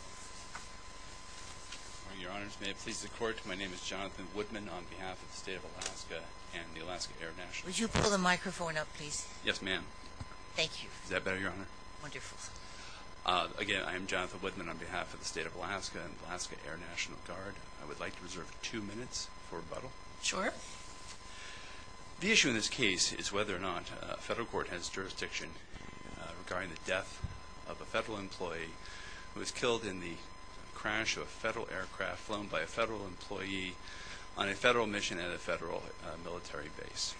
I am Jonathan Woodman on behalf of the State of Alaska and the Alaska Air National Guard. I would like to reserve two minutes for rebuttal. The issue in this case is whether or not a federal court has jurisdiction regarding the who was killed in the crash of a federal aircraft flown by a federal employee on a federal mission at a federal military base.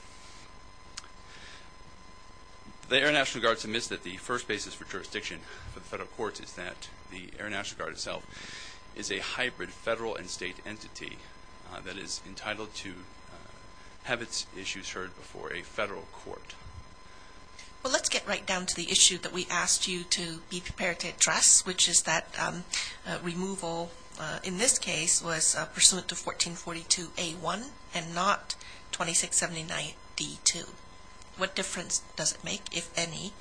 The Air National Guard submits that the first basis for jurisdiction for the federal courts is that the Air National Guard itself is a hybrid federal and state entity that is entitled to have its issues heard before a federal court. Well let's get right down to the issue that we asked you to be prepared to address which is that removal in this case was pursuant to 1442A1 and not 2679D2. What difference does it make, if any,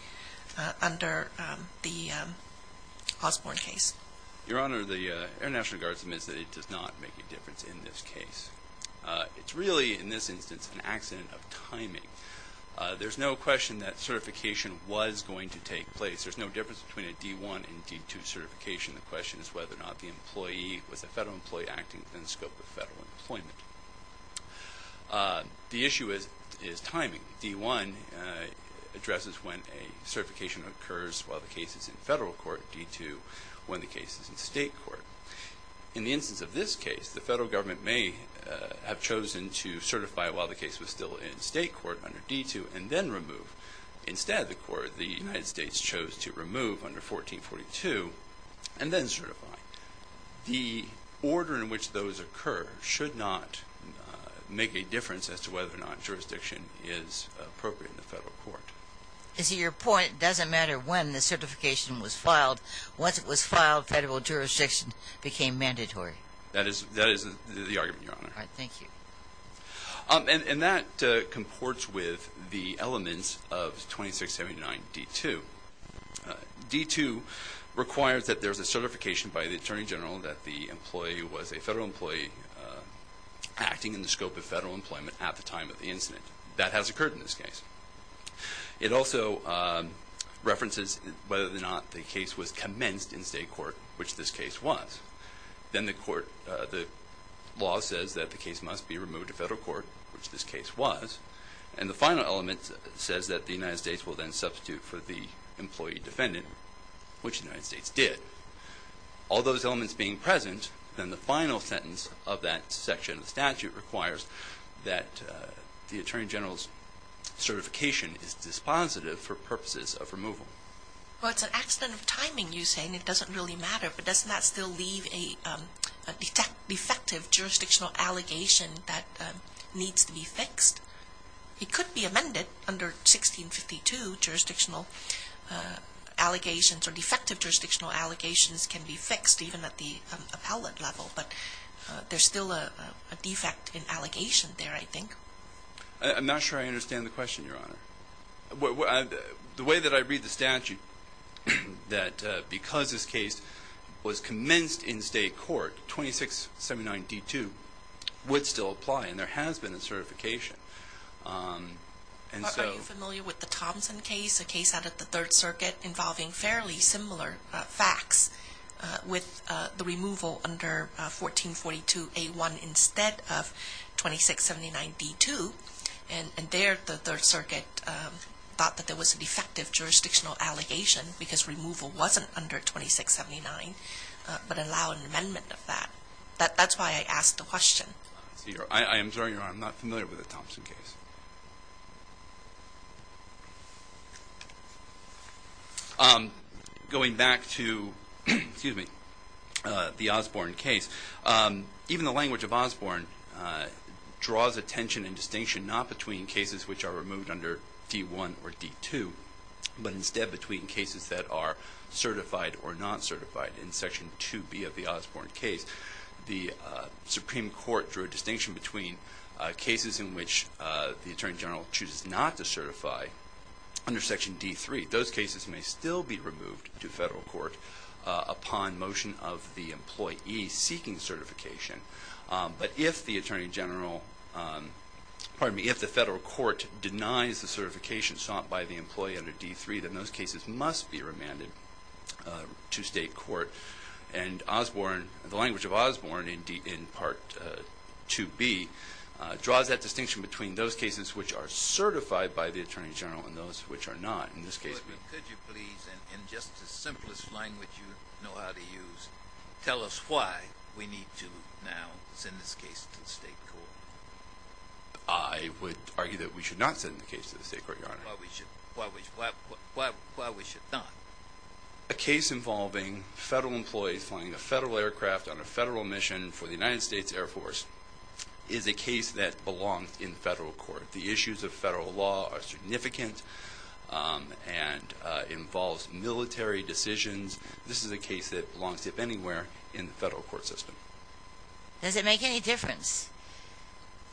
under the Osborne case? Your Honor, the Air National Guard submits that it does not make a difference in this case. It's really in this instance an accident of timing. There's no question that certification was going to take place. There's no difference between a D1 and D2 certification. The question is whether or not the employee was a federal employee acting within the scope of federal employment. The issue is timing. D1 addresses when a certification occurs while the case is in federal court. D2 when the case is in state court. In the instance of this case, the federal government may have chosen to certify while the case was still in state court under D2 and then remove. Instead, the United States chose to remove under 1442 and then certify. The order in which those occur should not make a difference as to whether or not jurisdiction is appropriate in the federal court. Your point is it doesn't matter when the certification was filed. Once it was filed, federal jurisdiction became mandatory. That is the argument, Your Honor. Thank you. That comports with the elements of 2679 D2. D2 requires that there's a certification by the Attorney General that the employee was a federal employee acting in the scope of federal employment at the time of the incident. That has occurred in this case. It also references whether or not the case was commenced in state court, which this case was. Then the law says that the case must be removed to federal court, which this case was. And the final element says that the United States will then substitute for the employee defendant, which the United States did. All those elements being present, then the final sentence of that section of the statute requires that the Attorney General's certification is dispositive for purposes of removal. Well, it's an accident of timing, you say, and it doesn't really matter. But doesn't that still leave a defective jurisdictional allegation that needs to be fixed? It could be amended under 1652. Jurisdictional allegations or defective jurisdictional allegations can be fixed even at the appellate level. But there's still a defect in allegation there, I think. I'm not sure I understand the question, Your Honor. The way that I read the statute, that because this case was commenced in state court, 2679D2 would still apply, and there has been a certification. Are you familiar with the Thompson case, a case out of the Third Circuit involving fairly similar facts with the removal under 1442A1 instead of 2679D2? And there the Third Circuit thought that there was a defective jurisdictional allegation because removal wasn't under 2679, but allow an amendment of that. That's why I asked the question. I am sorry, Your Honor, I'm not familiar with the Thompson case. Going back to the Osborne case, even the language of Osborne draws attention and distinction not between cases which are removed under D1 or D2, but instead between cases that are certified or not certified. In Section 2B of the Osborne case, the Supreme Court drew a distinction between cases in which the Attorney General chooses not to certify under Section D3. Those cases may still be removed to federal court upon motion of the employee seeking certification. But if the federal court denies the certification sought by the employee under D3, then those cases must be remanded to state court. And the language of Osborne in Part 2B draws that distinction between those cases which are certified by the Attorney General and those which are not. Could you please, in just the simplest language you know how to use, tell us why we need to now send this case to the state court? I would argue that we should not send the case to the state court, Your Honor. Why we should not? A case involving federal employees flying a federal aircraft on a federal mission for the United States Air Force is a case that belongs in federal court. The issues of federal law are significant and involves military decisions. This is a case that belongs to anywhere in the federal court system. Does it make any difference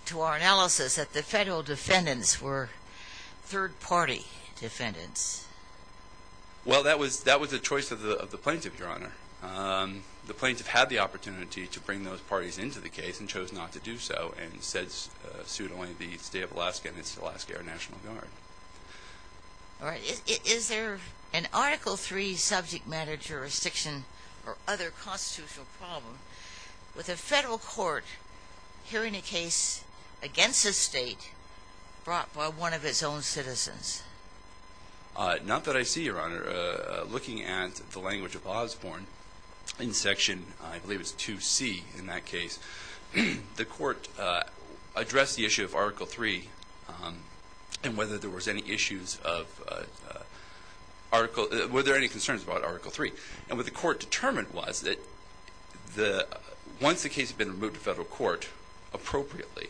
to our analysis that the federal defendants were third-party defendants? Well, that was the choice of the plaintiff, Your Honor. The plaintiff had the opportunity to bring those parties into the case and chose not to do so and said suit only the state of Alaska and its Alaska Air National Guard. All right. Is there an Article III subject matter jurisdiction or other constitutional problem with a federal court hearing a case against a state brought by one of its own citizens? Not that I see, Your Honor. Looking at the language of Osborne in Section, I believe it's 2C in that case, the court addressed the issue of Article III and whether there were any concerns about Article III. And what the court determined was that once the case had been removed to federal court appropriately,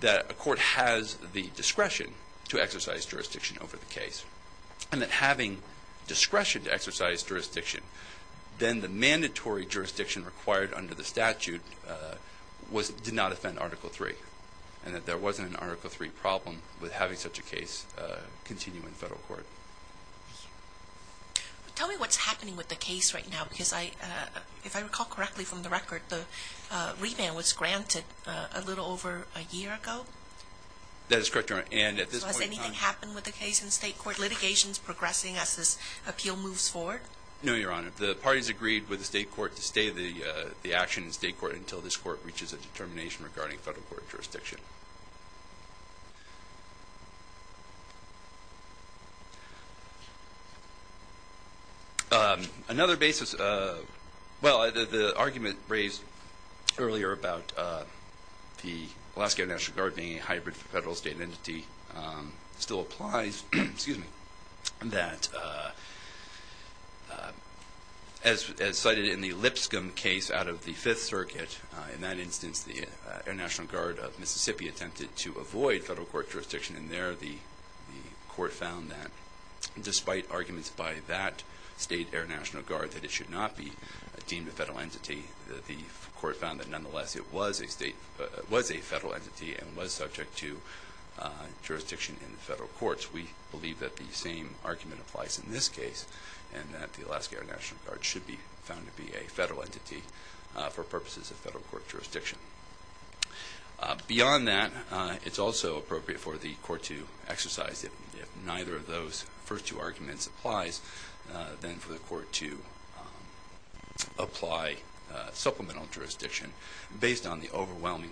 that a court has the discretion to exercise jurisdiction over the case and that having discretion to exercise jurisdiction, then the mandatory jurisdiction required under the statute did not offend Article III and that there wasn't an Article III problem with having such a case continue in federal court. Tell me what's happening with the case right now because if I recall correctly from the record, the revamp was granted a little over a year ago. That is correct, Your Honor. So has anything happened with the case in state court? Is litigation progressing as this appeal moves forward? No, Your Honor. The parties agreed with the state court to stay the action in state court until this court reaches a determination regarding federal court jurisdiction. Another basis, well, the argument raised earlier about the Alaska Air National Guard being a hybrid federal state entity still applies, excuse me, that as cited in the Lipscomb case out of the Fifth Circuit, in that instance the Air National Guard of Mississippi attempted to avoid federal court jurisdiction and there the court found that despite arguments by that state Air National Guard that it should not be deemed a federal entity, the court found that nonetheless it was a federal entity and was subject to jurisdiction in the federal courts. We believe that the same argument applies in this case and that the Alaska Air National Guard should be found to be a federal entity for purposes of federal court jurisdiction. Beyond that, it's also appropriate for the court to exercise, if neither of those first two arguments applies, then for the court to apply supplemental jurisdiction based on the overwhelming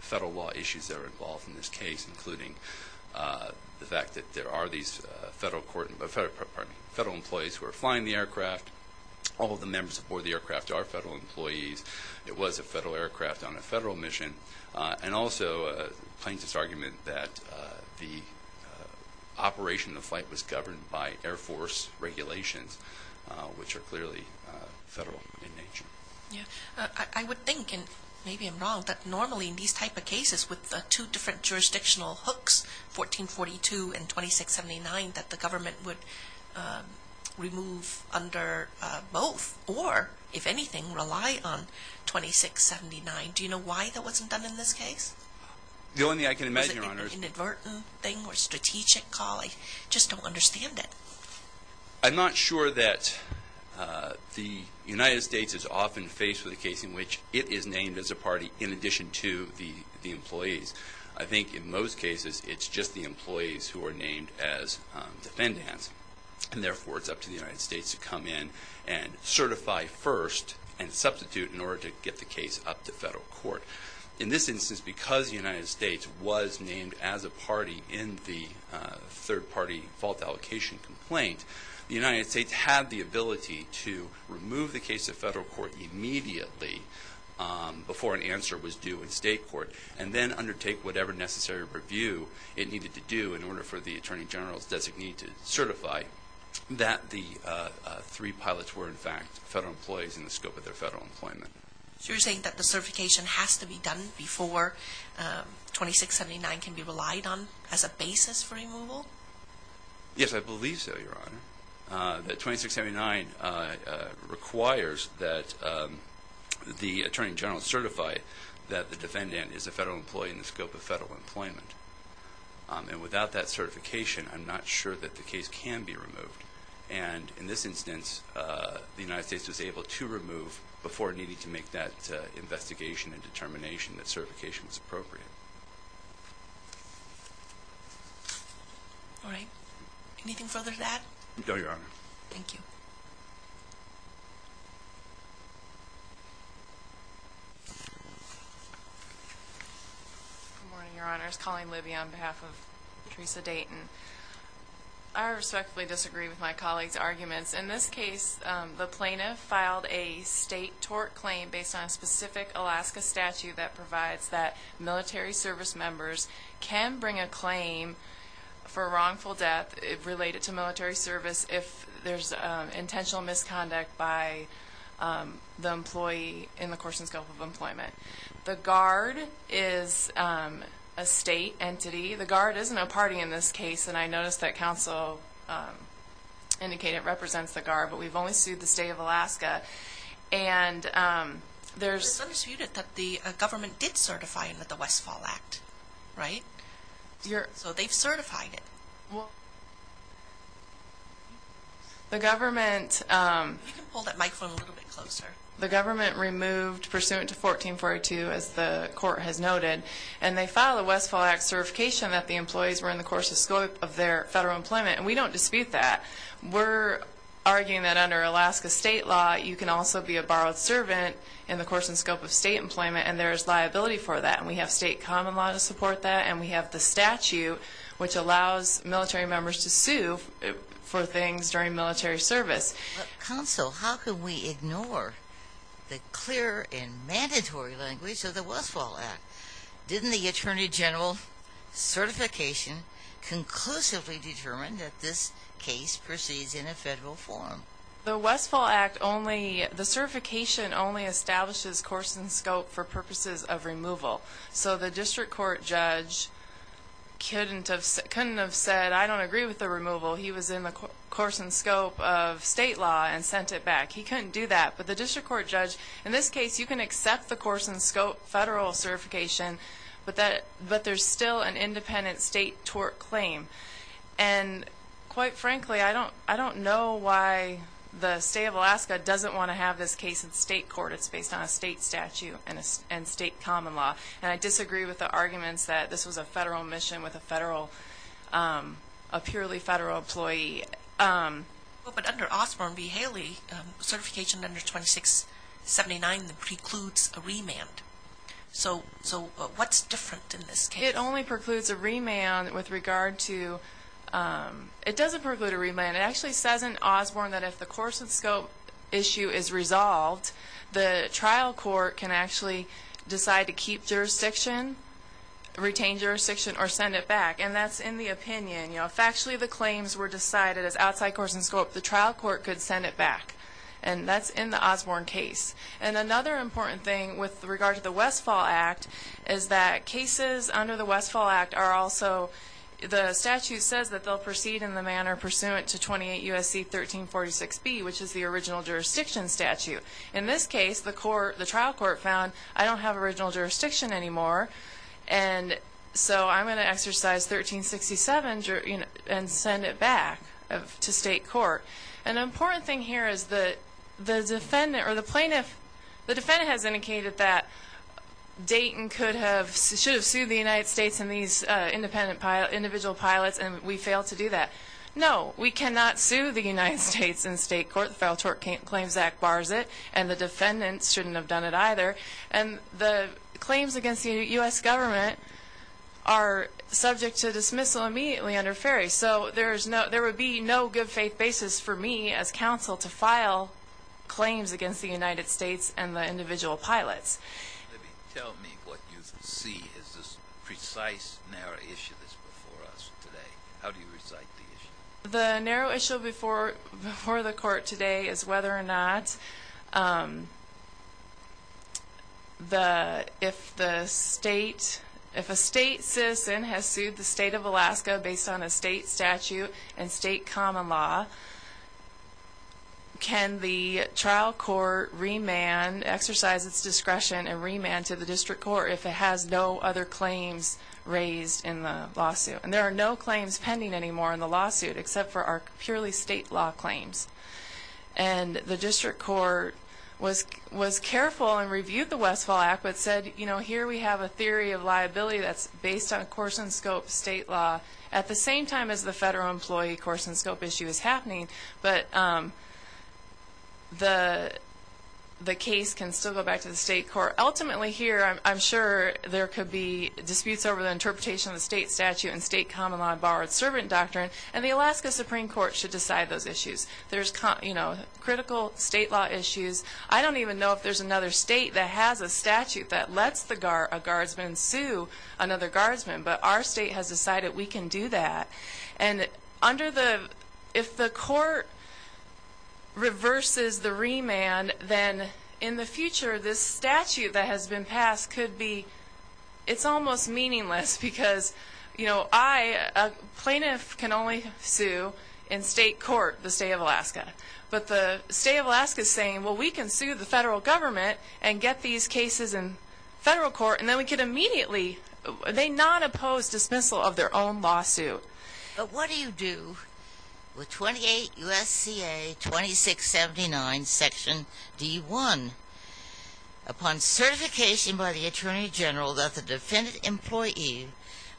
federal law issues that are involved in this case, including the fact that there are these federal employees who are flying the aircraft, all of the members aboard the aircraft are federal employees, it was a federal aircraft on a federal mission, and also plaintiff's argument that the operation of the flight was governed by Air Force regulations, which are clearly federal in nature. I would think, and maybe I'm wrong, that normally in these type of cases with the two different jurisdictional hooks, 1442 and 2679, that the government would remove under both or, if anything, rely on 2679. Do you know why that wasn't done in this case? The only thing I can imagine, Your Honors. Was it an inadvertent thing or strategic call? I just don't understand it. I'm not sure that the United States is often faced with a case in which it is named as a party in addition to the employees. I think in most cases it's just the employees who are named as defendants, and therefore it's up to the United States to come in and certify first and substitute in order to get the case up to federal court. In this instance, because the United States was named as a party in the third-party fault allocation complaint, the United States had the ability to remove the case to federal court immediately before an answer was due in state court, and then undertake whatever necessary review it needed to do in order for the Attorney General's designee to certify that the three pilots were in fact federal employees in the scope of their federal employment. So you're saying that the certification has to be done before 2679 can be relied on as a basis for removal? Yes, I believe so, Your Honor. The 2679 requires that the Attorney General certify that the defendant is a federal employee in the scope of federal employment. And without that certification, I'm not sure that the case can be removed. And in this instance, the United States was able to remove before needing to make that investigation and determination that certification was appropriate. All right. Anything further to that? No, Your Honor. Thank you. Good morning, Your Honors. Colleen Libby on behalf of Theresa Dayton. I respectfully disagree with my colleague's arguments. In this case, the plaintiff filed a state tort claim based on a specific Alaska statute that provides that military service members can bring a claim for wrongful death related to military service if there's intentional misconduct by the employee in the course and scope of employment. The guard is a state entity. The guard isn't a party in this case, and I noticed that counsel indicated it represents the guard, but we've only sued the state of Alaska. It's undisputed that the government did certify under the Westfall Act, right? So they've certified it. The government removed pursuant to 1442, as the court has noted, and they filed a Westfall Act certification that the employees were in the course and scope of their federal employment, and we don't dispute that. We're arguing that under Alaska state law, you can also be a borrowed servant in the course and scope of state employment, and there's liability for that, and we have state common law to support that, and we have the statute which allows military members to sue for things during military service. Counsel, how can we ignore the clear and mandatory language of the Westfall Act? Didn't the Attorney General certification conclusively determine that this case proceeds in a federal forum? The Westfall Act only, the certification only establishes course and scope for purposes of removal, so the district court judge couldn't have said, I don't agree with the removal. He was in the course and scope of state law and sent it back. He couldn't do that, but the district court judge, in this case you can accept the course and scope federal certification, but there's still an independent state tort claim, and quite frankly, I don't know why the state of Alaska doesn't want to have this case in state court. It's based on a state statute and state common law, and I disagree with the arguments that this was a federal mission with a purely federal employee. But under Osborne v. Haley, certification under 2679 precludes a remand. So what's different in this case? It only precludes a remand with regard to, it doesn't preclude a remand. It actually says in Osborne that if the course and scope issue is resolved, the trial court can actually decide to keep jurisdiction, retain jurisdiction, or send it back, and that's in the opinion. Factually, the claims were decided as outside course and scope. The trial court could send it back, and that's in the Osborne case. And another important thing with regard to the Westfall Act is that cases under the Westfall Act are also, the statute says that they'll proceed in the manner pursuant to 28 U.S.C. 1346B, which is the original jurisdiction statute. In this case, the trial court found I don't have original jurisdiction anymore, and so I'm going to exercise 1367 and send it back to state court. An important thing here is the defendant or the plaintiff, the defendant has indicated that Dayton should have sued the United States and these individual pilots, and we failed to do that. No, we cannot sue the United States in state court. The Federal Tort Claims Act bars it, and the defendant shouldn't have done it either. And the claims against the U.S. government are subject to dismissal immediately under FERI. So there would be no good faith basis for me as counsel to file claims against the United States and the individual pilots. Tell me what you see as this precise, narrow issue that's before us today. How do you recite the issue? The narrow issue before the court today is whether or not if the state, if a state citizen has sued the state of Alaska based on a state statute and state common law, can the trial court remand, exercise its discretion and remand to the district court if it has no other claims raised in the lawsuit? And there are no claims pending anymore in the lawsuit except for our purely state law claims. And the district court was careful and reviewed the Westfall Act but said, you know, here we have a theory of liability that's based on course and scope state law at the same time as the federal employee course and scope issue is happening. But the case can still go back to the state court. Ultimately here, I'm sure there could be disputes over the interpretation of the state statute and state common law borrowed servant doctrine. And the Alaska Supreme Court should decide those issues. There's critical state law issues. I don't even know if there's another state that has a statute that lets a guardsman sue another guardsman. But our state has decided we can do that. And under the, if the court reverses the remand, then in the future, this statute that has been passed could be, it's almost meaningless because, you know, I, a plaintiff can only sue in state court, the state of Alaska. But the state of Alaska is saying, well, we can sue the federal government and get these cases in federal court and then we can immediately, they non-oppose dismissal of their own lawsuit. But what do you do with 28 U.S.C.A. 2679 Section D1? Upon certification by the Attorney General that the defendant employee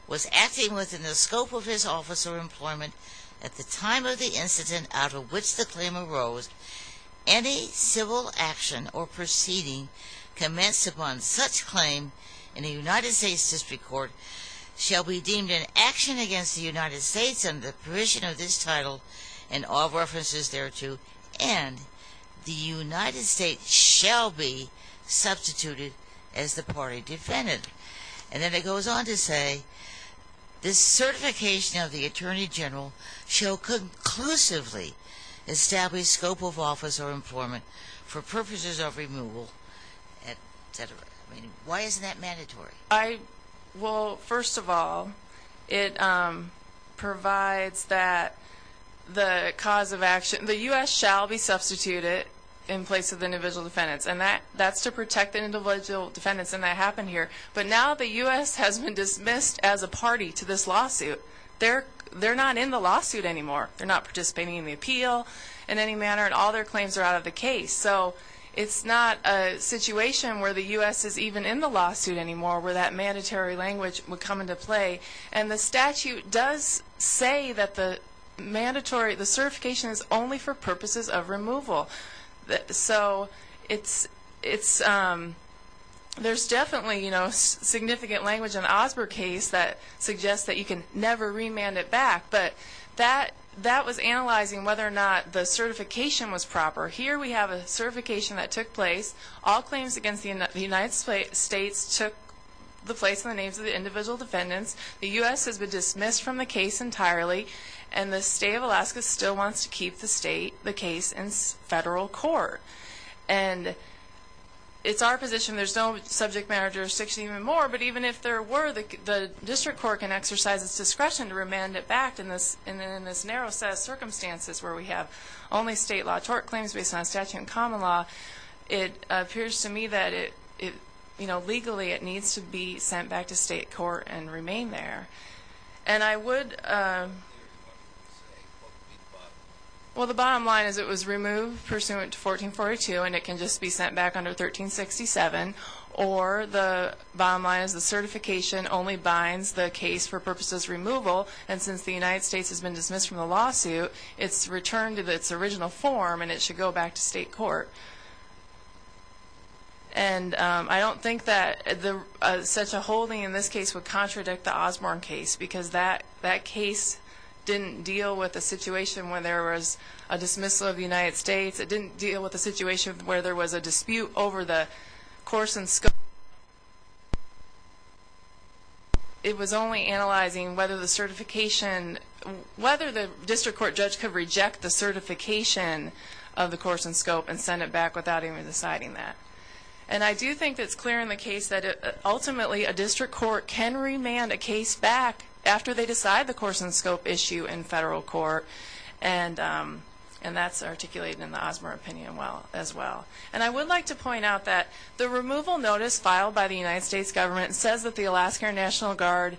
was acting within the scope of his office or employment at the time of the incident out of which the claim arose, any civil action or proceeding commenced upon such claim in the United States District Court shall be deemed an action against the United States under the provision of this title and all references thereto and the United States shall be substituted as the party defendant. And then it goes on to say, this certification of the Attorney General shall conclusively establish scope of office or employment for purposes of removal, et cetera. I mean, why isn't that mandatory? I, well, first of all, it provides that the cause of action, the U.S. shall be substituted in place of the individual defendants and that's to protect the individual defendants and that happened here. But now the U.S. has been dismissed as a party to this lawsuit. They're not in the lawsuit anymore. They're not participating in the appeal in any manner and all their claims are out of the case. So it's not a situation where the U.S. is even in the lawsuit anymore where that mandatory language would come into play. And the statute does say that the mandatory, the certification is only for purposes of removal. So it's, there's definitely, you know, significant language in the Osborne case that suggests that you can never remand it back. But that was analyzing whether or not the certification was proper. Here we have a certification that took place. All claims against the United States took the place of the names of the individual defendants. The U.S. has been dismissed from the case entirely and the state of Alaska still wants to keep the state, the case in federal court. And it's our position there's no subject matter jurisdiction even more, but even if there were, the district court can exercise its discretion to remand it back in this narrow set of circumstances where we have only state law tort claims based on statute and common law. It appears to me that it, you know, legally it needs to be sent back to state court and remain there. And I would, well, the bottom line is it was removed pursuant to 1442 and it can just be sent back under 1367. Or the bottom line is the certification only binds the case for purposes of removal and since the United States has been dismissed from the lawsuit, it's returned to its original form and it should go back to state court. And I don't think that such a holding in this case would contradict the Osborne case because that case didn't deal with a situation where there was a dismissal of the United States. It didn't deal with a situation where there was a dispute over the course and scope. It was only analyzing whether the certification, whether the district court judge could reject the certification of the course and scope and send it back without even deciding that. And I do think it's clear in the case that ultimately a district court can remand a case back after they decide the course and scope issue in federal court. And that's articulated in the Osborne opinion as well. And I would like to point out that the removal notice filed by the United States government says that the Alaska National Guard,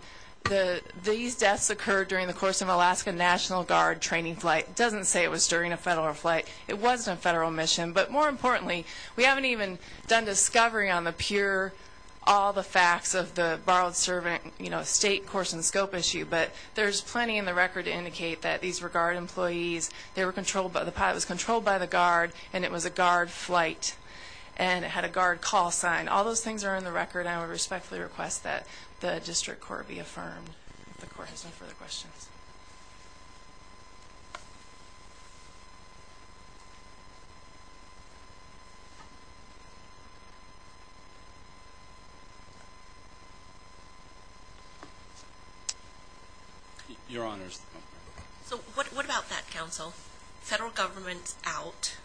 these deaths occurred during the course of Alaska National Guard training flight. It doesn't say it was during a federal flight. It wasn't a federal mission. But more importantly, we haven't even done discovery on the pure, all the facts of the borrowed servant, you know, state course and scope issue. But there's plenty in the record to indicate that these were Guard employees. They were controlled by the pilot. It was controlled by the Guard and it was a Guard flight. And it had a Guard call sign. All those things are in the record. And I would respectfully request that the district court be affirmed. If the court has no further questions. Your Honors. So what about that, counsel? Federal government's out.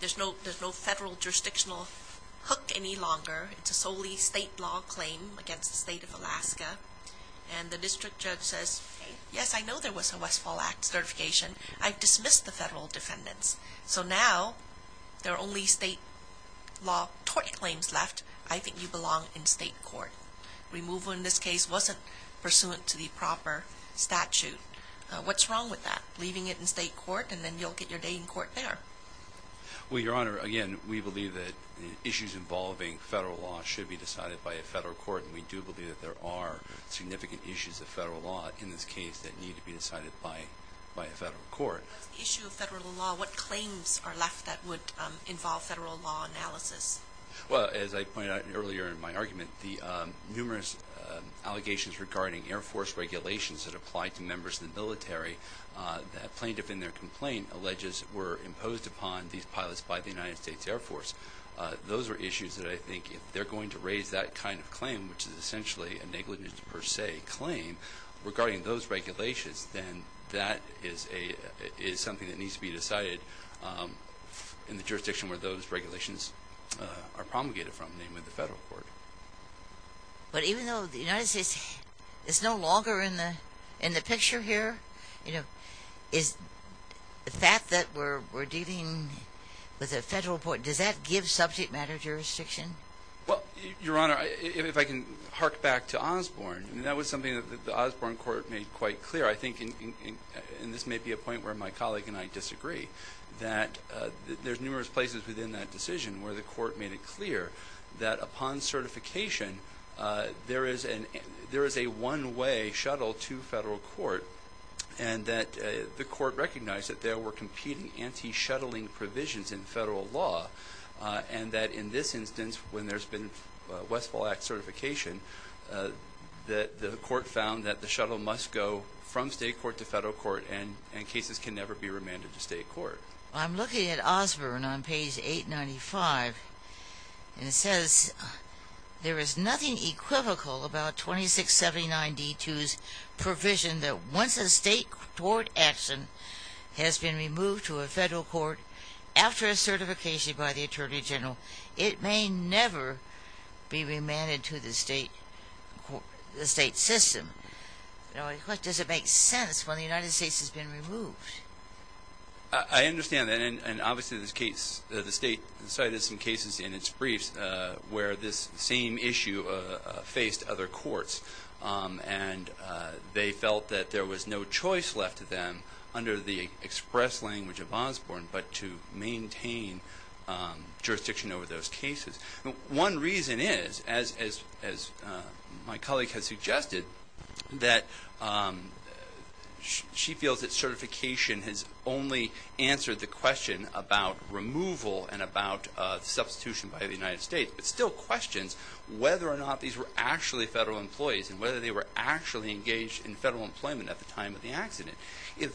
There's no federal jurisdictional hook any longer. It's a solely state law claim against the state of Alaska. And the district judge says, yes, I know there was a Westfall Act certification. I've dismissed the federal defendants. So now there are only state law tort claims left. I think you belong in state court. Removal in this case wasn't pursuant to the proper statute. What's wrong with that? You belong in state court and then you'll get your day in court there. Well, Your Honor, again, we believe that the issues involving federal law should be decided by a federal court. And we do believe that there are significant issues of federal law in this case that need to be decided by a federal court. What's the issue of federal law? What claims are left that would involve federal law analysis? Well, as I pointed out earlier in my argument, the numerous allegations regarding Air Force regulations that apply to members of the military, plaintiff in their complaint alleges were imposed upon these pilots by the United States Air Force. Those are issues that I think if they're going to raise that kind of claim, which is essentially a negligence per se claim regarding those regulations, then that is something that needs to be decided in the jurisdiction where those regulations are promulgated from, namely the federal court. But even though the United States is no longer in the picture here, is the fact that we're dealing with a federal court, does that give subject matter jurisdiction? Well, Your Honor, if I can hark back to Osborne, and that was something that the Osborne court made quite clear, I think, and this may be a point where my colleague and I disagree, that there's numerous places within that decision where the court made it clear that upon certification there is a one-way shuttle to federal court and that the court recognized that there were competing anti-shuttling provisions in federal law and that in this instance, when there's been Westfall Act certification, that the court found that the shuttle must go from state court to federal court and cases can never be remanded to state court. I'm looking at Osborne on page 895 and it says, there is nothing equivocal about 2679-D2's provision that once a state court action has been removed to a federal court after a certification by the Attorney General, it may never be remanded to the state system. What does it make sense when the United States has been removed? I understand that and obviously the state cited some cases in its briefs where this same issue faced other courts and they felt that there was no choice left to them under the express language of Osborne but to maintain jurisdiction over those cases. One reason is, as my colleague has suggested, that she feels that certification has only answered the question about removal and about substitution by the United States but still questions whether or not these were actually federal employees and whether they were actually engaged in federal employment at the time of the accident. The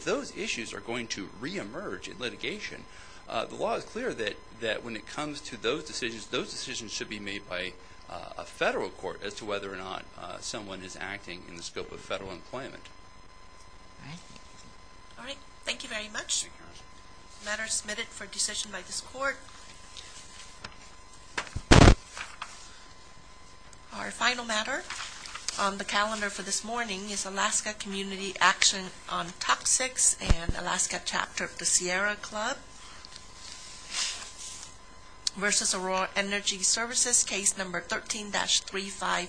law is clear that when it comes to those decisions, those decisions should be made by a federal court as to whether or not someone is acting in the scope of federal employment. Alright, thank you very much. The matter is submitted for decision by this court. Our final matter on the calendar for this morning is Alaska Community Action on Toxics and Alaska Chapter of the Sierra Club versus Aurora Energy Services, case number 13-35709. Alaska Community Action on Toxics and Alaska Chapter of the Sierra Club